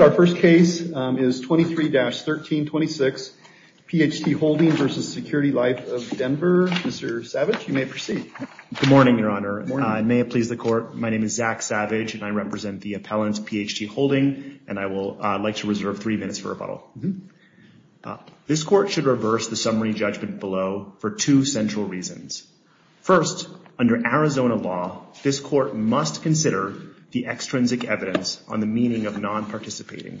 Our first case is 23-1326, PHT Holding v. Security Life of Denver. Mr. Savage, you may proceed. Good morning, Your Honor. May it please the Court, my name is Zach Savage and I represent the appellant, PHT Holding, and I would like to reserve three minutes for rebuttal. This Court should reverse the summary judgment below for two central reasons. First, under Arizona law, this Court must consider the extrinsic evidence on the meaning of non-participating.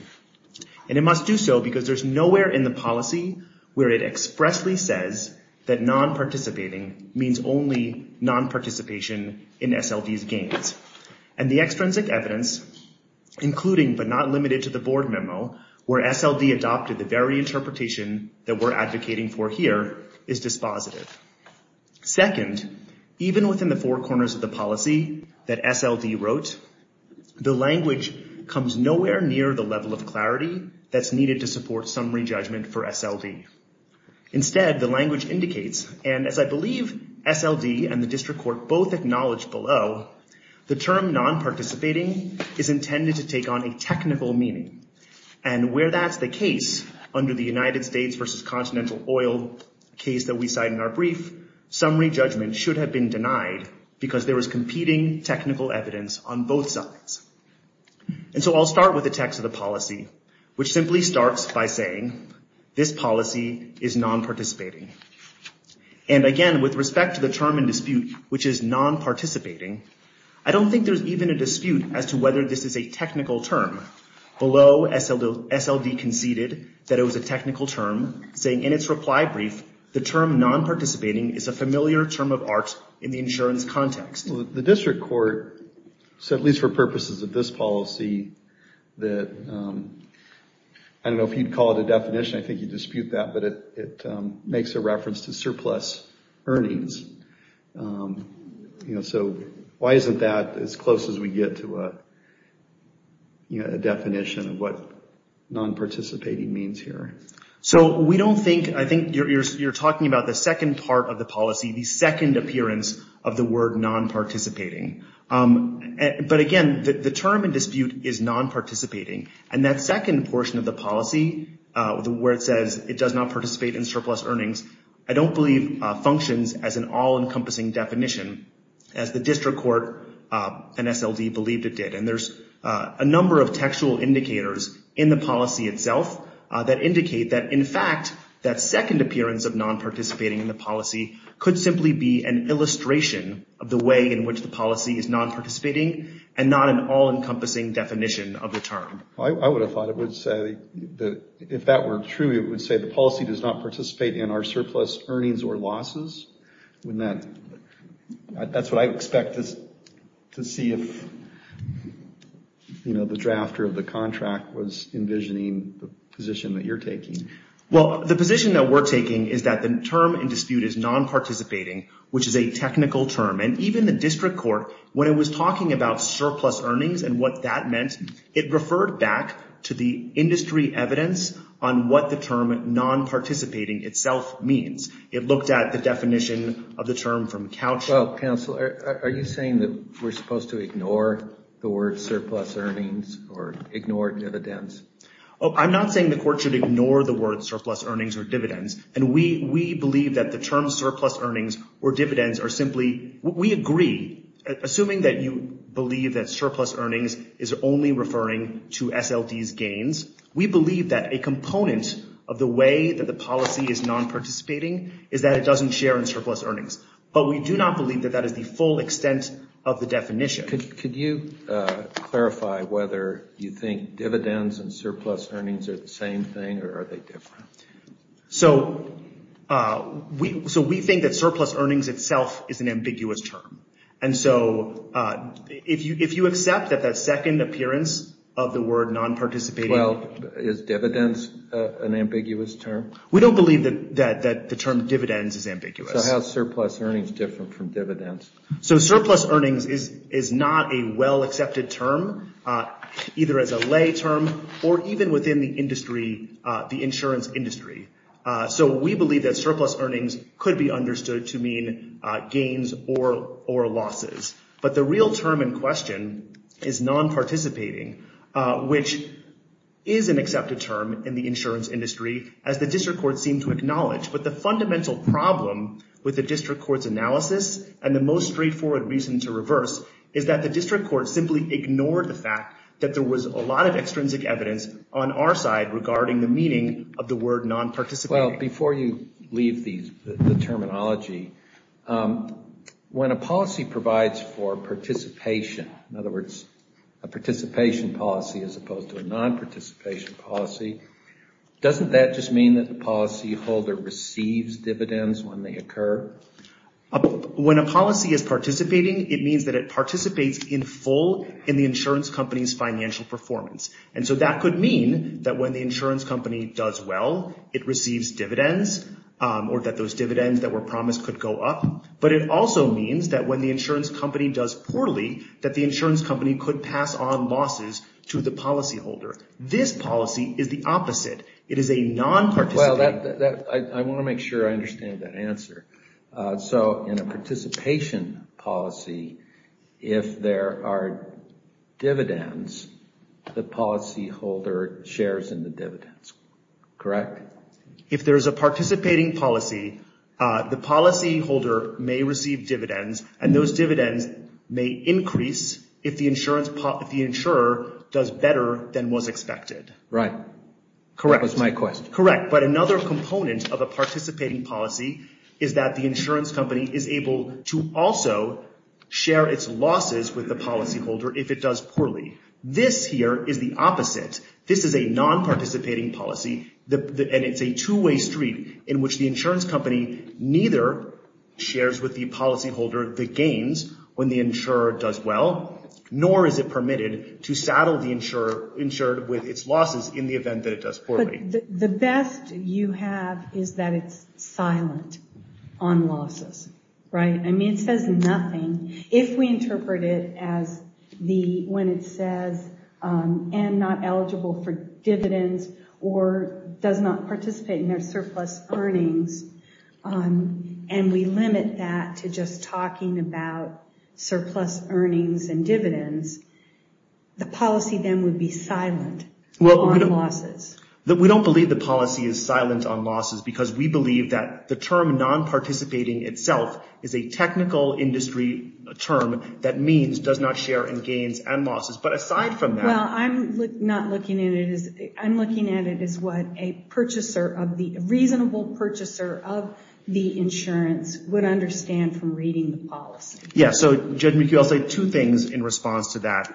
And it must do so because there's nowhere in the policy where it expressly says that non-participating means only non-participation in SLD's gains. And the extrinsic evidence, including but not limited to the board memo, where SLD adopted the very interpretation that we're advocating for here, is dispositive. Second, even within the four corners of the policy that SLD wrote, the language comes nowhere near the level of clarity that's needed to support summary judgment for SLD. Instead, the language indicates, and as I believe SLD and the District Court both acknowledged below, the term non-participating is intended to take on a technical meaning. And where that's the case, under the United States versus Continental Oil case that we cite in our brief, summary judgment should have been denied because there was competing technical evidence on both sides. And so I'll start with the text of the policy, which simply starts by saying, this policy is non-participating. And again, with respect to the term in dispute, which is non-participating, I don't think there's even a dispute as to whether this is a technical term. Below, SLD conceded that it was a technical term, saying in its reply brief, the term non-participating is a familiar term of art in the insurance context. The District Court said, at least for purposes of this policy, that, I don't know if you'd call it a definition, I think you'd dispute that, but it makes a reference to surplus earnings. So why isn't that as close as we get to a definition of what non-participating means here? So we don't think, I think you're talking about the second part of the policy, the second appearance of the word non-participating. But again, the term in dispute is non-participating. And that second portion of the policy, where it says it does not participate in surplus earnings, I don't believe functions as an all-encompassing definition, as the District Court and SLD believed it did. And there's a number of textual indicators in the policy itself that indicate that, in fact, that second appearance of non-participating in the policy could simply be an illustration of the way in which the policy is non-participating and not an all-encompassing definition of the term. I would have thought it would say that, if that were true, it would say the policy does not participate in our surplus earnings or losses. That's what I'd expect, to see if the drafter of the contract was envisioning the position that you're taking. Well, the position that we're taking is that the term in dispute is non-participating, which is a technical term. And even the District Court, when it was talking about surplus earnings and what that meant, it referred back to the industry evidence on what the term non-participating itself means. It looked at the definition of the term from Couch. Well, counsel, are you saying that we're supposed to ignore the word surplus earnings or ignore dividends? Oh, I'm not saying the Court should ignore the word surplus earnings or dividends. And we believe that the term surplus earnings or dividends are simply, we agree, assuming that you believe that surplus earnings is only referring to SLDs gains. We believe that a component of the way that the policy is non-participating is that it doesn't share in surplus earnings. But we do not believe that that is the full extent of the definition. Could you clarify whether you think dividends and surplus earnings are the same thing or are they different? So we think that surplus earnings itself is an ambiguous term. And so if you accept that that second appearance of the word non-participating... Well, is dividends an ambiguous term? We don't believe that the term dividends is ambiguous. So how is surplus earnings different from dividends? So surplus earnings is not a well-accepted term, either as a lay term or even within the industry, the insurance industry. So we believe that surplus earnings could be understood to mean gains or losses. But the real term in question is non-participating, which is an accepted term in the insurance industry, as the District Court seemed to acknowledge. But the fundamental problem with the District Court's analysis and the most straightforward reason to reverse is that the District Court simply ignored the fact that there was a lot of extrinsic evidence on our side regarding the meaning of the word non-participating. Well, before you leave the terminology, when a policy provides for participation, in other words, a participation policy as opposed to a non-participation policy, doesn't that just mean that the policyholder receives dividends when they occur? When a policy is participating, it means that it participates in full in the insurance company's financial performance. And so that could mean that when the insurance company does well, it receives dividends or that those dividends that were promised could go up. But it also means that when the insurance company does poorly, that the insurance company could pass on losses to the policyholder. This policy is the opposite. It is a non-participating... Well, I want to make sure I understand that answer. So in a participation policy, if there are dividends, the policyholder shares in the dividends, correct? If there is a participating policy, the policyholder may receive dividends and those dividends may increase if the insurer does better than was expected. Right. That was my question. Correct. But another component of a participating policy is that the insurance company is able to also share its losses with the policyholder if it does poorly. This here is the opposite. This is a non-participating policy and it's a two-way street in which the insurance company neither shares with the policyholder the gains when the insurer does well, nor is it permitted to saddle the insurer with its losses in the event that it does poorly. The best you have is that it's silent on losses, right? I mean, it says nothing. If we interpret it as the... when it says, am not eligible for dividends or does not participate in their surplus earnings, and we limit that to just talking about surplus earnings and dividends, the policy then would be silent on losses. We don't believe the policy is silent on losses because we believe that the term non-participating itself is a technical industry term that means does not share in gains and losses. But aside from that... Well, I'm not looking at it as... I'm looking at it as what a purchaser of the... a reasonable purchaser of the insurance would understand from reading the policy. Yeah. So, Judge McHugh, I'll say two things in response to that.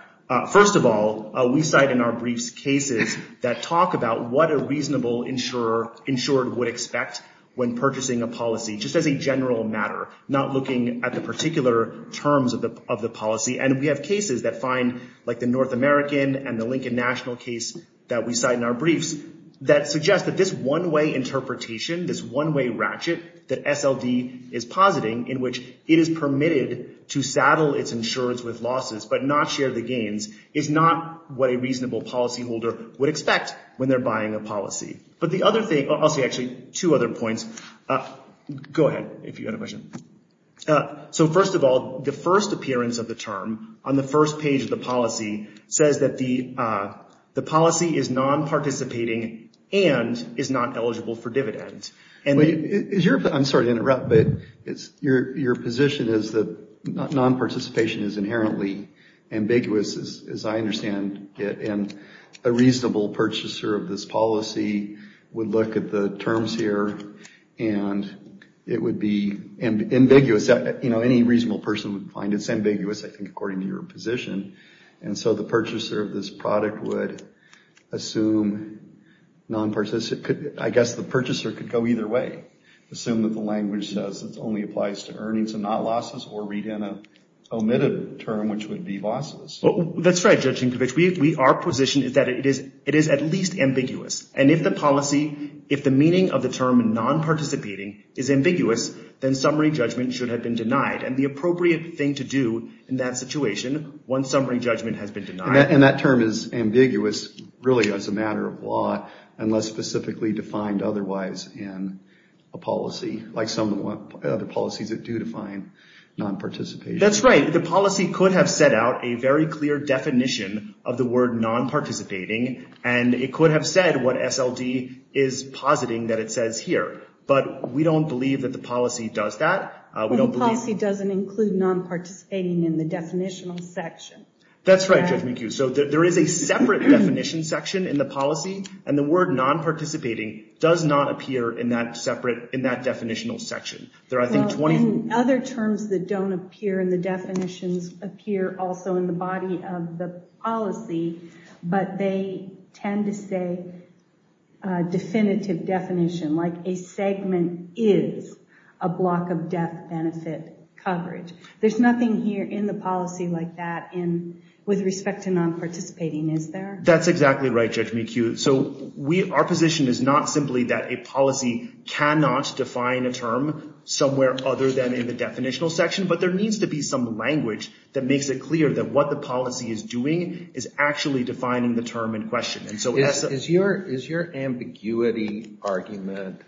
First of all, we cite in our briefs cases that talk about what a reasonable insurer would expect when purchasing a policy, just as a general matter, not looking at the particular terms of the policy. And we have cases that find, like the North American and the Lincoln National case that we cite in our briefs that suggest that this one-way interpretation, this one-way ratchet that SLD is positing in which it is permitted to saddle its insurers with losses but not share the gains is not what a reasonable policyholder would expect when they're buying a policy. But the other thing... I'll say actually two other points. Go ahead, if you have a question. So, first of all, the first appearance of the term on the first page of the policy says that the policy is non-participating and is not eligible for dividend. I'm sorry to interrupt, but your position is that non-participation is inherently ambiguous, as I understand it, and a reasonable purchaser of this policy would look at the terms here and it would be ambiguous. Any reasonable person would find it's ambiguous, I think, according to your position. And so the purchaser of this product would assume non-participation... I guess the purchaser could go either way, assume that the language says it only applies to earnings and not losses, or read in an omitted term, which would be losses. That's right, Judge Sienkiewicz. Our position is that it is at least ambiguous. And if the policy, if the meaning of the term non-participating is ambiguous, then summary judgment should have been denied. And the appropriate thing to do in that situation, once summary judgment has been denied... And that term is ambiguous, really, as a matter of law, unless specifically defined otherwise in a policy, like some of the other policies that do define non-participation. That's right. The policy could have set out a very clear definition of the word non-participating, and it could have said what SLD is positing that it says here. But we don't believe that the policy does that. The policy doesn't include non-participating in the definitional section. That's right, Judge Sienkiewicz. So there is a separate definition section in the policy, and the word non-participating does not appear in that definitional section. There are, I think, 20... Well, in other terms that don't appear, and the definitions appear also in the body of the policy, but they tend to say a definitive definition, like a segment is a block of death benefit coverage. There's nothing here in the policy like that with respect to non-participating, is there? That's exactly right, Judge McHugh. So our position is not simply that a policy cannot define a term somewhere other than in the definitional section, but there needs to be some language that makes it clear that what the policy is doing is actually defining the term in question. And so... Is your ambiguity argument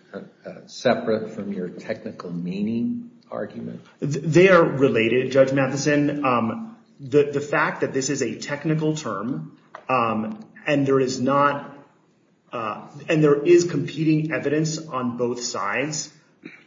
separate from your technical meaning argument? They are related, Judge Matheson. The fact that this is a technical term and there is competing evidence on both sides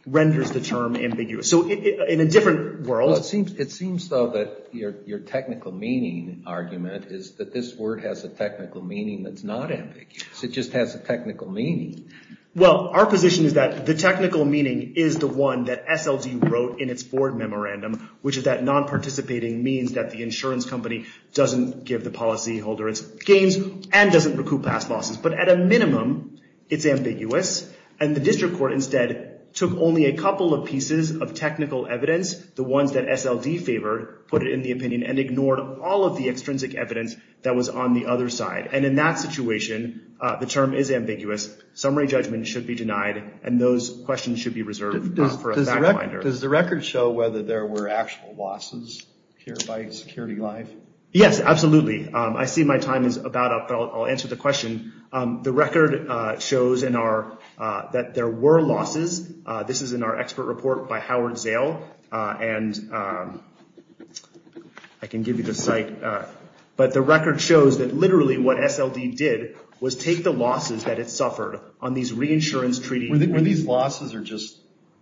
renders the term ambiguous. So in a different world... It seems so that your technical meaning argument is that this word has a technical meaning that's not ambiguous. It just has a technical meaning. Well, our position is that the technical meaning is the one that SLD wrote in its Ford Memorandum, which is that non-participating means that the insurance company doesn't give the policyholder its gains and doesn't recoup past losses. But at a minimum, it's ambiguous. And the district court instead took only a couple of pieces of technical evidence, the ones that SLD favored, put it in the opinion and ignored all of the extrinsic evidence that was on the other side. And in that situation, the term is ambiguous. Summary judgment should be denied. And those questions should be reserved for a backwinder. Does the record show whether there were actual losses here by SecurityLive? Yes, absolutely. I see my time is about up. I'll answer the question. The record shows that there were losses. This is in our expert report by Howard Zale. And I can give you the but the record shows that literally what SLD did was take the losses that it suffered on these reinsurance treaties. Were these losses or just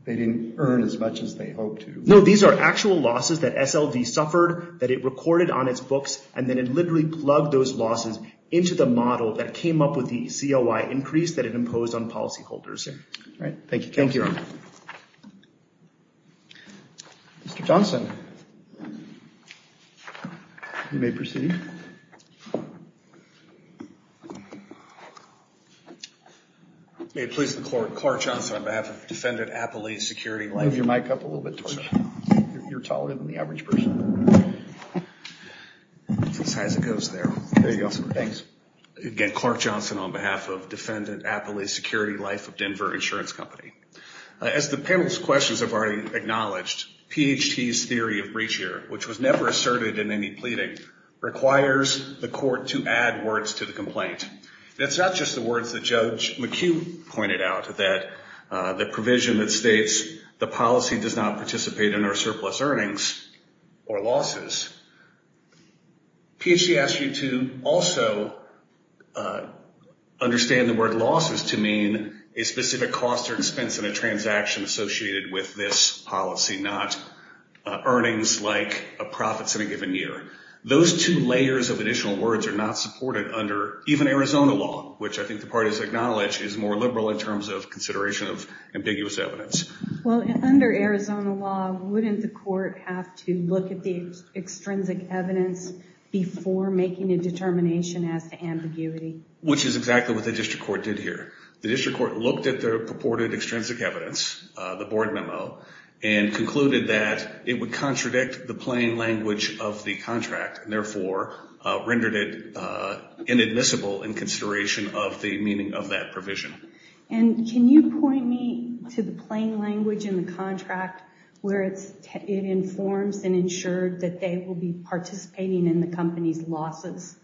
they didn't earn as much as they hoped to? No, these are actual losses that SLD suffered, that it recorded on its books, and then it literally plugged those losses into the model that came up with the COI increase that it imposed on policyholders. All right, thank you. Thank you. Mr. Johnson, you may proceed. May it please the court, Clark Johnson on behalf of Defendant Appley SecurityLive. Move your mic up a little bit. You're taller than the average person. As high as it goes there. There you go. Thanks. Again, Clark Johnson on behalf of Defendant Appley SecurityLive of Denver Insurance Company. As the panel's questions have already acknowledged, PHT's theory of breach here, which was never asserted in any pleading, requires the court to add words to the complaint. It's not just the words that Judge McHugh pointed out that the provision that states the policy does not participate in our surplus earnings or losses. PHT asks you to also understand the word losses to mean a specific cost or expense in a transaction associated with this policy, not earnings like profits in a given year. Those two layers of additional words are not supported under even Arizona law, which I think the parties acknowledge is more liberal in terms of consideration of ambiguous evidence. Well, under Arizona law, wouldn't the court have to look at the extrinsic evidence before making a determination as to ambiguity? Which is exactly what the district court did here. The district court looked at the purported extrinsic evidence, the board memo, and concluded that it would contradict the plain language of the contract and therefore rendered it inadmissible in consideration of the meaning of that provision. And can you point me to the plain language in the contract where it informs and ensured that they will be participating in the company's losses?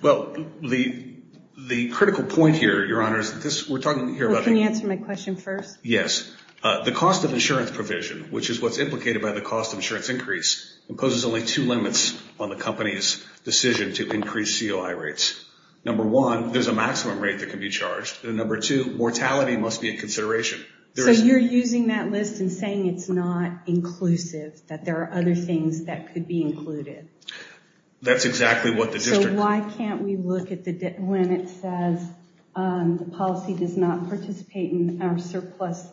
Well, the critical point here, Your Honor, is that we're talking here about... Can you answer my question first? Yes. The cost of insurance provision, which is what's implicated by the cost of insurance increase, imposes only two limits on the company's decision to increase COI rates. Number one, there's a maximum rate that can be charged. And number two, mortality must be in consideration. So you're using that list and saying it's not inclusive, that there are other things that could be included. That's exactly what the district... So why can't we look at the... When it says the policy does not participate in our surplus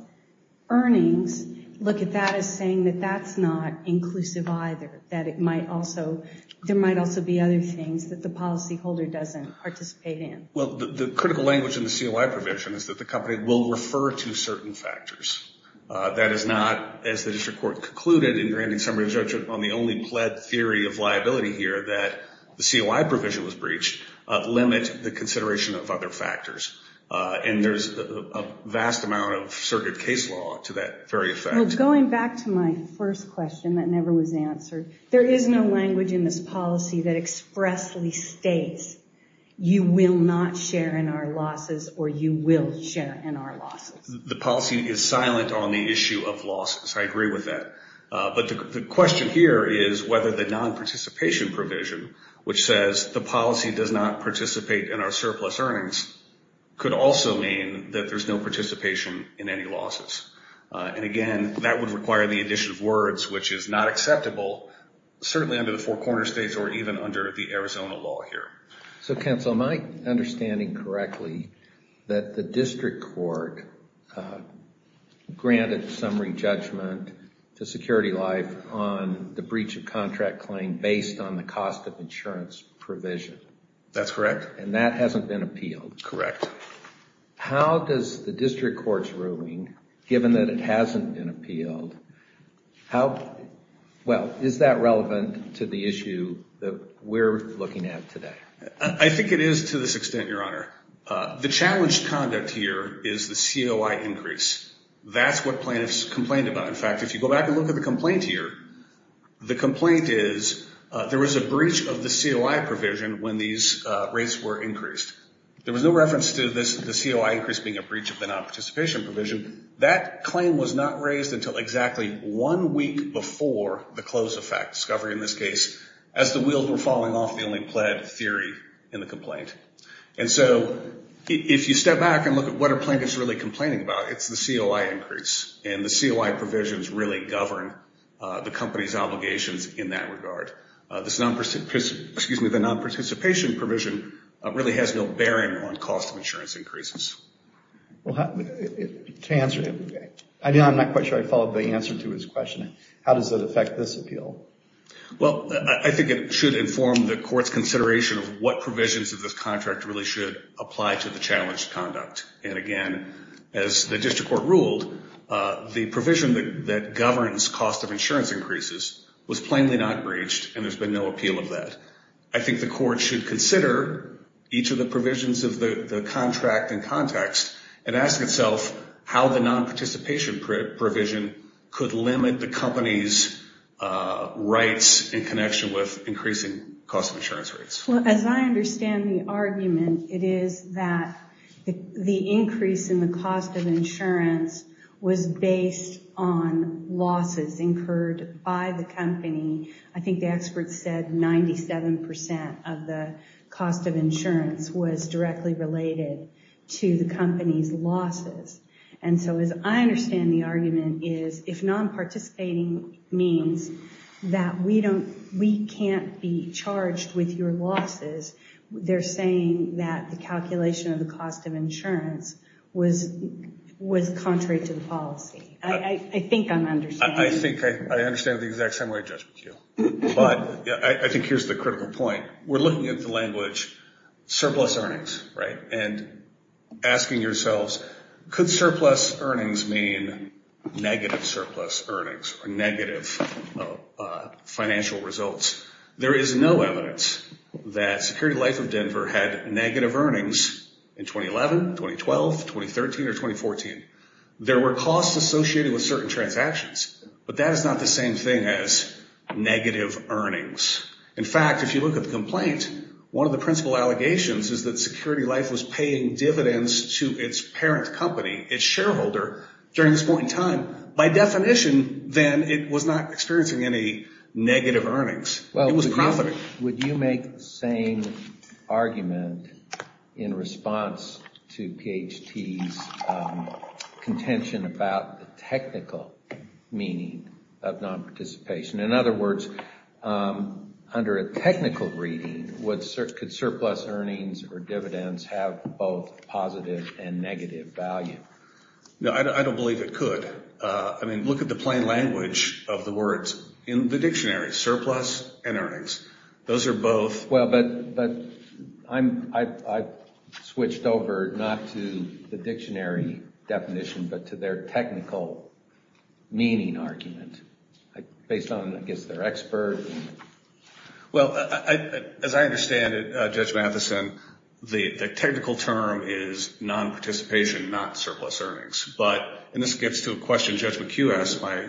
earnings, look at that as saying that that's not inclusive either, that it might also... There might also be other things that the policyholder doesn't participate in. Well, the critical language in the COI provision is that the company will refer to certain factors. That is not, as the district court concluded in granting summary judgment on the only pled theory of liability here that the COI provision was breached, limit the consideration of other factors. And there's a vast amount of circuit case law to that very effect. Well, going back to my first question that never was answered, there is no language in this policy that expressly states you will not share in our losses or you will share in our losses. The policy is silent on the issue of losses. I agree with that. But the question here is whether the non-participation provision, which says the policy does not participate in our surplus earnings, could also mean that there's no participation in any losses. And again, that would require the addition of words, which is not acceptable, certainly under the four corner states or even under the Arizona law here. So, counsel, am I understanding correctly that the district court granted summary judgment to Security Life on the breach of contract claim based on the cost of insurance provision? That's correct. And that hasn't been appealed? Correct. How does the district court's ruling, given that it hasn't been appealed, how, well, is that relevant to the issue that we're looking at today? I think it is to this extent, Your Honor. The challenged conduct here is the COI increase. That's what plaintiffs complained about. In fact, if you go back and look at the complaint here, the complaint is there was a breach of the COI provision when these rates were increased. There was no reference to this, the COI increase being a breach of the non-participation provision. That claim was not raised until exactly one week before the close effect discovery in this case, as the wheels were falling off, the only pled theory in the complaint. And so, if you step back and look at what are plaintiffs really complaining about, it's the COI increase. And the COI provisions really govern the company's obligations in that regard. The non-participation provision really has no bearing on cost of insurance increases. To answer, I'm not quite sure I followed the answer to his question. How does it affect this appeal? Well, I think it should inform the court's consideration of what provisions of this contract really should apply to the challenged conduct. And again, as the district court ruled, the provision that governs cost of insurance increases was plainly not breached and there's been no appeal of that. I think the court should consider each of the provisions of the contract in context and ask itself how the non-participation provision could limit the company's rights in connection with increasing cost of insurance rates. Well, as I understand the argument, it is that the increase in the cost of insurance was based on losses incurred by the company. I think the experts said 97% of the cost of insurance was directly related to the company's losses. And so, as I understand the argument is, if non-participating means that we can't be charged with your losses, they're saying that the calculation of the cost of insurance was contrary to the policy. I think I'm understanding. I think I understand the exact same way I judge with you. But I think here's the critical point. We're looking at the language surplus earnings, right? And asking yourselves, could surplus earnings mean negative surplus earnings or negative financial results? There is no evidence that Security Life of Denver had negative earnings in 2011, 2012, 2013, or 2014. There were costs associated with certain transactions, but that is not the same thing as negative earnings. In fact, if you look at the complaint, one of the principal allegations is that Security Life was paying dividends to its parent company, its shareholder, during this negative earnings. It was a company. Well, would you make the same argument in response to PHT's contention about the technical meaning of non-participation? In other words, under a technical reading, could surplus earnings or dividends have both positive and negative value? No, I don't believe it could. I mean, look at the plain language of the words in the dictionary, surplus and earnings. Those are both... Well, but I've switched over not to the dictionary definition, but to their technical meaning argument based on, I guess, their expert. Well, as I understand it, Judge Matheson, the technical term is non-participation, not surplus earnings, but... And this gets to a question Judge McHugh asked my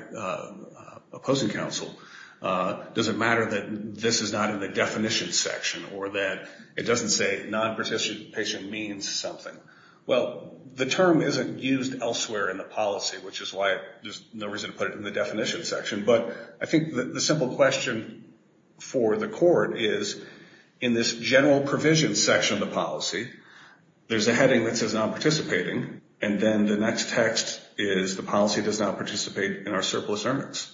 opposing counsel. Does it matter that this is not in the definition section or that it doesn't say non-participation means something? Well, the term isn't used elsewhere in the policy, which is why there's no reason to put it in the definition section, but I think the simple question for the court is in this general provision section of the policy, there's a heading that says non-participating, and then the next text is the policy does not participate in our surplus earnings.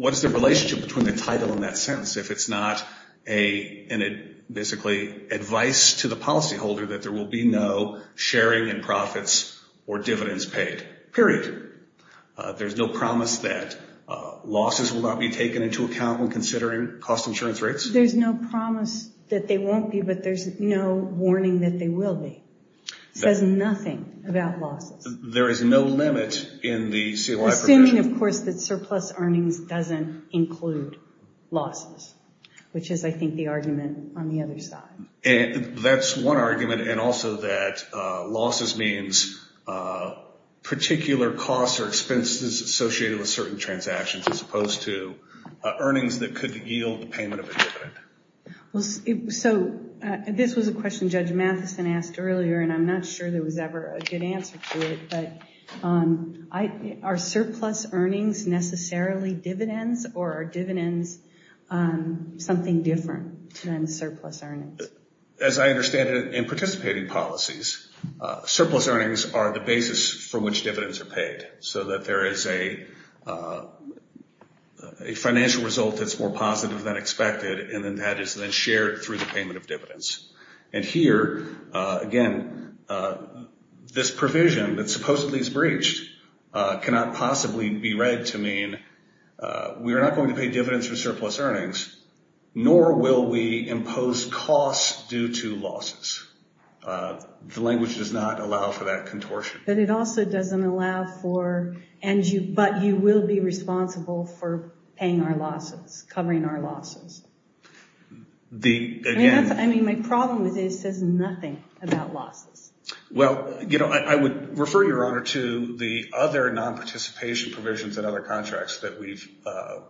What is the relationship between the title and that sentence if it's not basically advice to the policyholder that there will be no sharing in profits or dividends paid, period? There's no promise that losses will not be taken into account when considering cost insurance rates? There's no promise that they won't be, but there's no warning that they will be. It says nothing about losses. There is no limit in the CLI provision? Assuming, of course, that surplus earnings doesn't include losses, which is, I think, the argument on the other side. That's one argument, and also that losses means particular costs or expenses associated with certain transactions as opposed to earnings that could yield payment of a dividend. So this was a question Judge Matheson asked earlier, and I'm not sure there was ever a good answer to it, but are surplus earnings necessarily dividends, or are dividends something different than surplus earnings? As I understand it, in participating policies, surplus earnings are the basis for which dividends are paid, so that there is a financial result that's more positive than expected, and then that is then shared through the payment of dividends. And here, again, this provision that supposedly is breached cannot possibly be read to mean we are not going to pay dividends for surplus earnings, nor will we impose costs due to losses. The language does not allow for that contortion. But it also doesn't allow for, and you, but you will be responsible for paying our losses, covering our losses. I mean, my problem with this says nothing about losses. Well, you know, I would refer your honor to the other non-participation provisions in other contracts that we've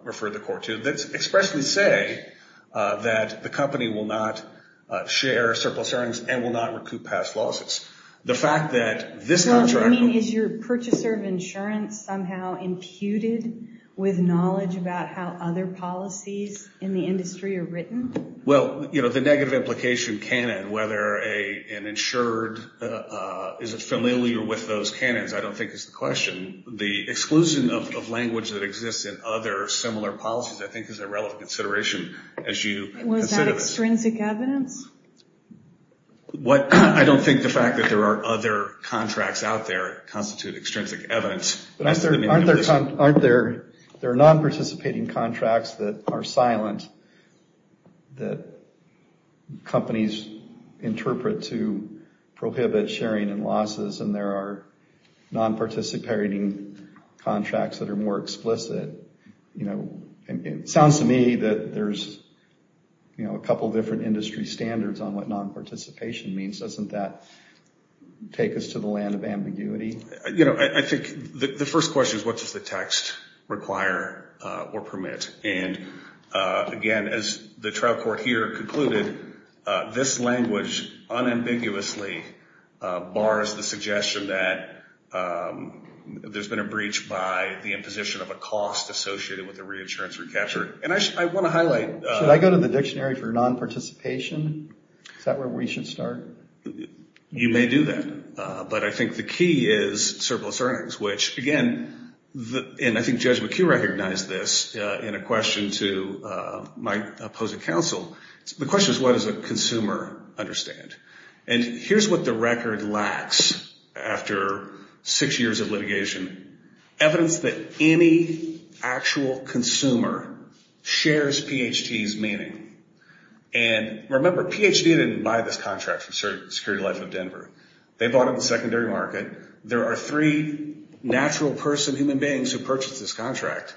referred the court to that expressly say that the company will not share surplus earnings and will not recoup past losses. The fact that this contract... So what you mean is your purchaser of insurance somehow imputed with knowledge about how other policies in the industry are written? Well, you know, the negative implication canon, whether an insured, is it familiar with those canons, I don't think is the question. The exclusion of language that exists in other similar policies, I think, is a relevant consideration as you consider this. Was that extrinsic evidence? I don't think the fact that there are other contracts out there constitute extrinsic evidence. Aren't there non-participating contracts that are silent, that companies interpret to prohibit sharing and losses, and there are non-participating contracts that are more explicit? You know, it sounds to me that there's, you know, a couple different industry standards on what non-participation means. Doesn't that take us to the land of ambiguity? You know, I think the first question is what does the text require or permit? And again, as the trial court here concluded, this language unambiguously bars the suggestion that there's been a breach by the imposition of a cost associated with the reinsurance recapture. And I want to highlight... Should I go to the dictionary for non-participation? Is that where we should start? You may do that, but I think the key is surplus earnings, which again, and I think Judge McHugh recognized this in a question to my opposing counsel. The question is what does a consumer understand? And here's what the record lacks after six years of litigation. Evidence that any actual consumer shares PHT's meaning. And remember, PHT didn't buy this contract from Security Life of Denver. They bought it in the natural person, human beings who purchased this contract.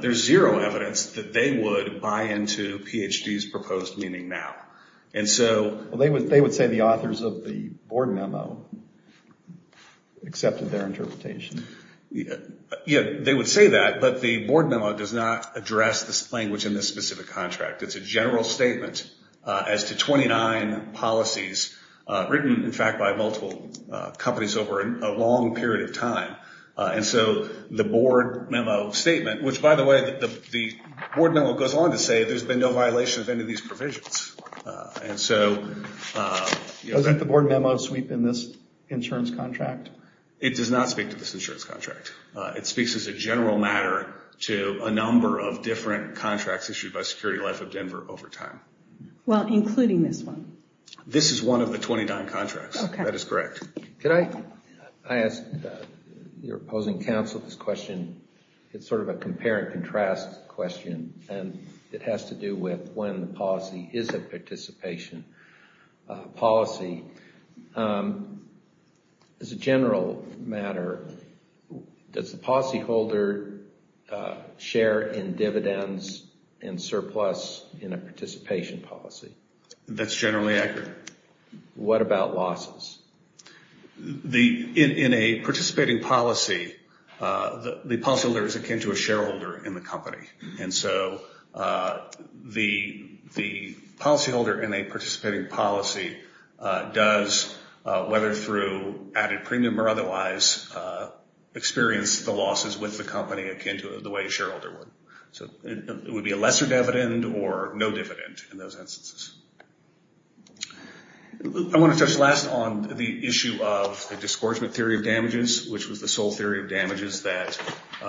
There's zero evidence that they would buy into PHT's proposed meaning now. And so... Well, they would say the authors of the board memo accepted their interpretation. Yeah, they would say that, but the board memo does not address this language in this specific contract. It's a general statement as to 29 policies written, in fact, by multiple companies over a long period of time. And so the board memo statement, which by the way, the board memo goes on to say there's been no violation of any of these provisions. And so... Doesn't the board memo sweep in this insurance contract? It does not speak to this insurance contract. It speaks as a general matter to a number of different contracts issued by Security Life of Denver over time. Well, including this one. This is one of the 29 contracts. Okay. That is correct. Could I... I asked your opposing counsel this question. It's sort of a compare and contrast question, and it has to do with when the policy is a participation policy. As a general matter, does the policyholder share in dividends and surplus in a participation policy? That's generally accurate. What about losses? In a participating policy, the policyholder is akin to a shareholder in the company. And so the policyholder in a participating policy does, whether through added premium or otherwise, experience the losses with the company akin to the way a shareholder would. So it would be a lesser dividend or no dividend in those instances. I want to touch last on the issue of the disgorgement theory of damages, which was the sole theory of damages that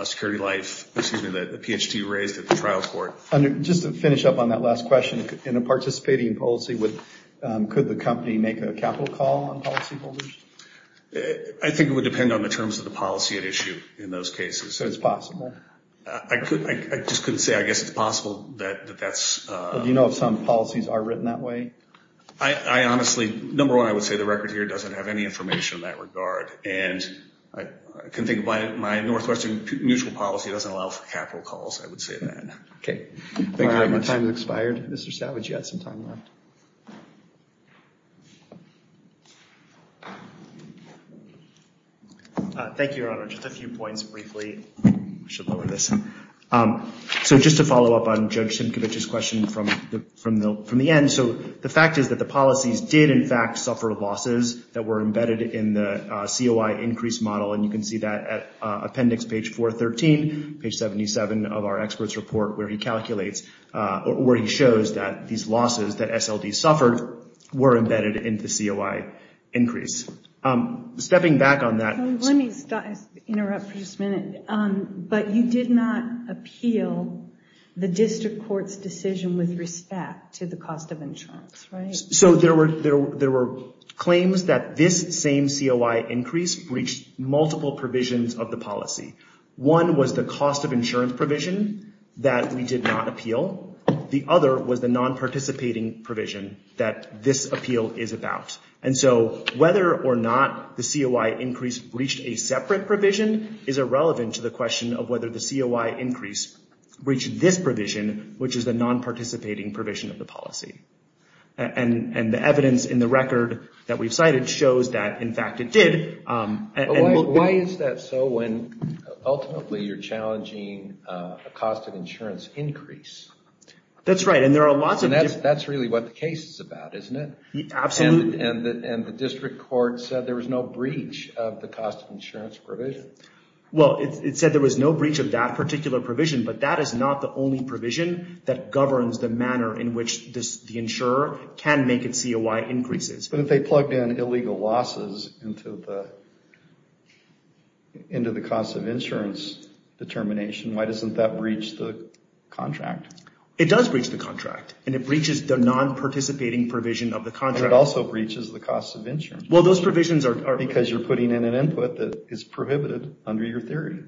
Security Life, excuse me, that the Ph.D. raised at the trial court. Just to finish up on that last question, in a participating policy, could the company make a capital call on policyholders? I think it would depend on the terms of the policy at issue in those cases. So it's possible? I just couldn't say. I guess it's possible that that's... Do you know if some policies are written that way? I honestly, number one, I would say the record here doesn't have any information in that regard. And I can think of my Northwestern mutual policy doesn't allow for capital calls, I would say that. Okay. Thank you very much. Time has expired. Mr. Savage, you had some time left. Thank you, Your Honor. Just a few points briefly. I should lower this. So just to follow up on Judge Simcovich's question from the end. So the fact is that the policies did, in fact, suffer losses that were embedded in the COI increase model. And you can see that at appendix page 413, page 77 of our expert's report where he calculates, where he shows that these losses that SLD suffered were embedded in the COI increase. Stepping back on that... Let me interrupt for just a minute. But you did not appeal the district court's decision with respect to the cost of insurance, right? So there were claims that this same COI increase breached multiple provisions of the policy. One was the cost of insurance provision that we did not appeal. The other was the non-participating provision that this appeal is about. And so whether or not the COI increase breached a separate provision is irrelevant to the question of whether the COI increase breached this provision, which is the non-participating provision of the policy. And the evidence in the record that we've cited shows that, in fact, it did. Why is that so when ultimately you're challenging a cost of insurance increase? That's right. And there are lots of... That's really what the case is about, isn't it? Absolutely. And the district court said there was no breach of the cost of insurance provision. Well, it said there was no breach of that particular provision, but that is not the only provision that governs the manner in which the insurer can make its COI increases. But if they plugged in illegal losses into the cost of insurance determination, why doesn't that breach the contract? It does breach the contract. And it breaches the non-participating provision of the contract. And it also breaches the cost of insurance. Well, those provisions are... Because you're putting in an input that is prohibited under your theory.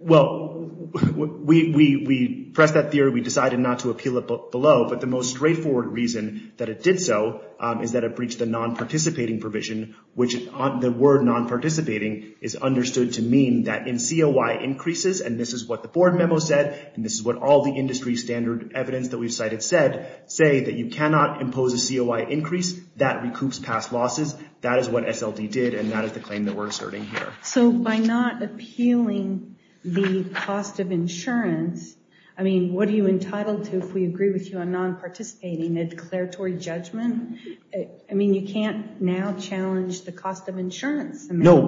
Well, we pressed that theory. We decided not to appeal it below, but the most straightforward reason that it did so is that it breached the non-participating provision, which the word non-participating is understood to mean that in COI increases, and this is what the board memo said, and this is what all the industry standard evidence that we've cited said, say that you cannot impose a COI increase that recoups past losses. That is what SLD did, and that is the claim that we're asserting here. So by not appealing the cost of insurance, I mean, what are you entitled to if we agree with you on non-participating, a declaratory judgment? I mean, you can't now challenge the cost of insurance. No.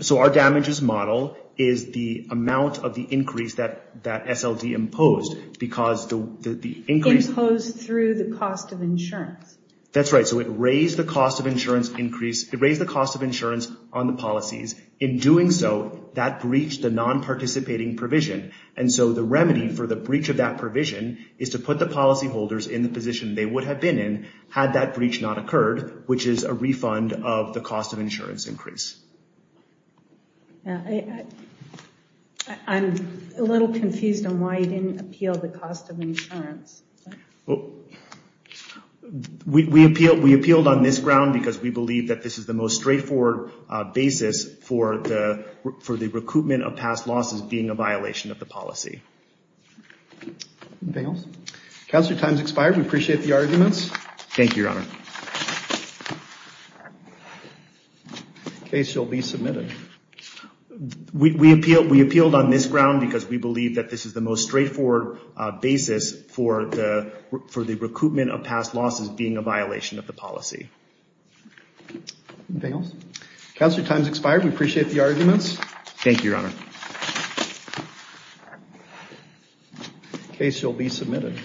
So our damages model is the amount of the increase that SLD imposed because the increase... Imposed through the cost of insurance. That's right. So it raised the cost of insurance on the policies. In doing so, that breached the non-participating provision, and so the remedy for the breach of that provision is to put the policyholders in the position they would have been in had that breach not occurred, which is a refund of the cost of insurance increase. I'm a little confused on why you didn't appeal the cost of insurance. Well, we appealed on this ground because we believe that this is the most straightforward basis for the recoupment of past losses being a violation of the policy. Anything else? Counselor, time's expired. We appreciate the arguments. Thank you, Your Honor. The case shall be submitted. We appealed on this ground because we believe that this is the most straightforward basis for the recoupment of past losses being a violation of the policy. Anything else? Counselor, time's expired. We appreciate the arguments. Thank you, Your Honor. The case shall be submitted.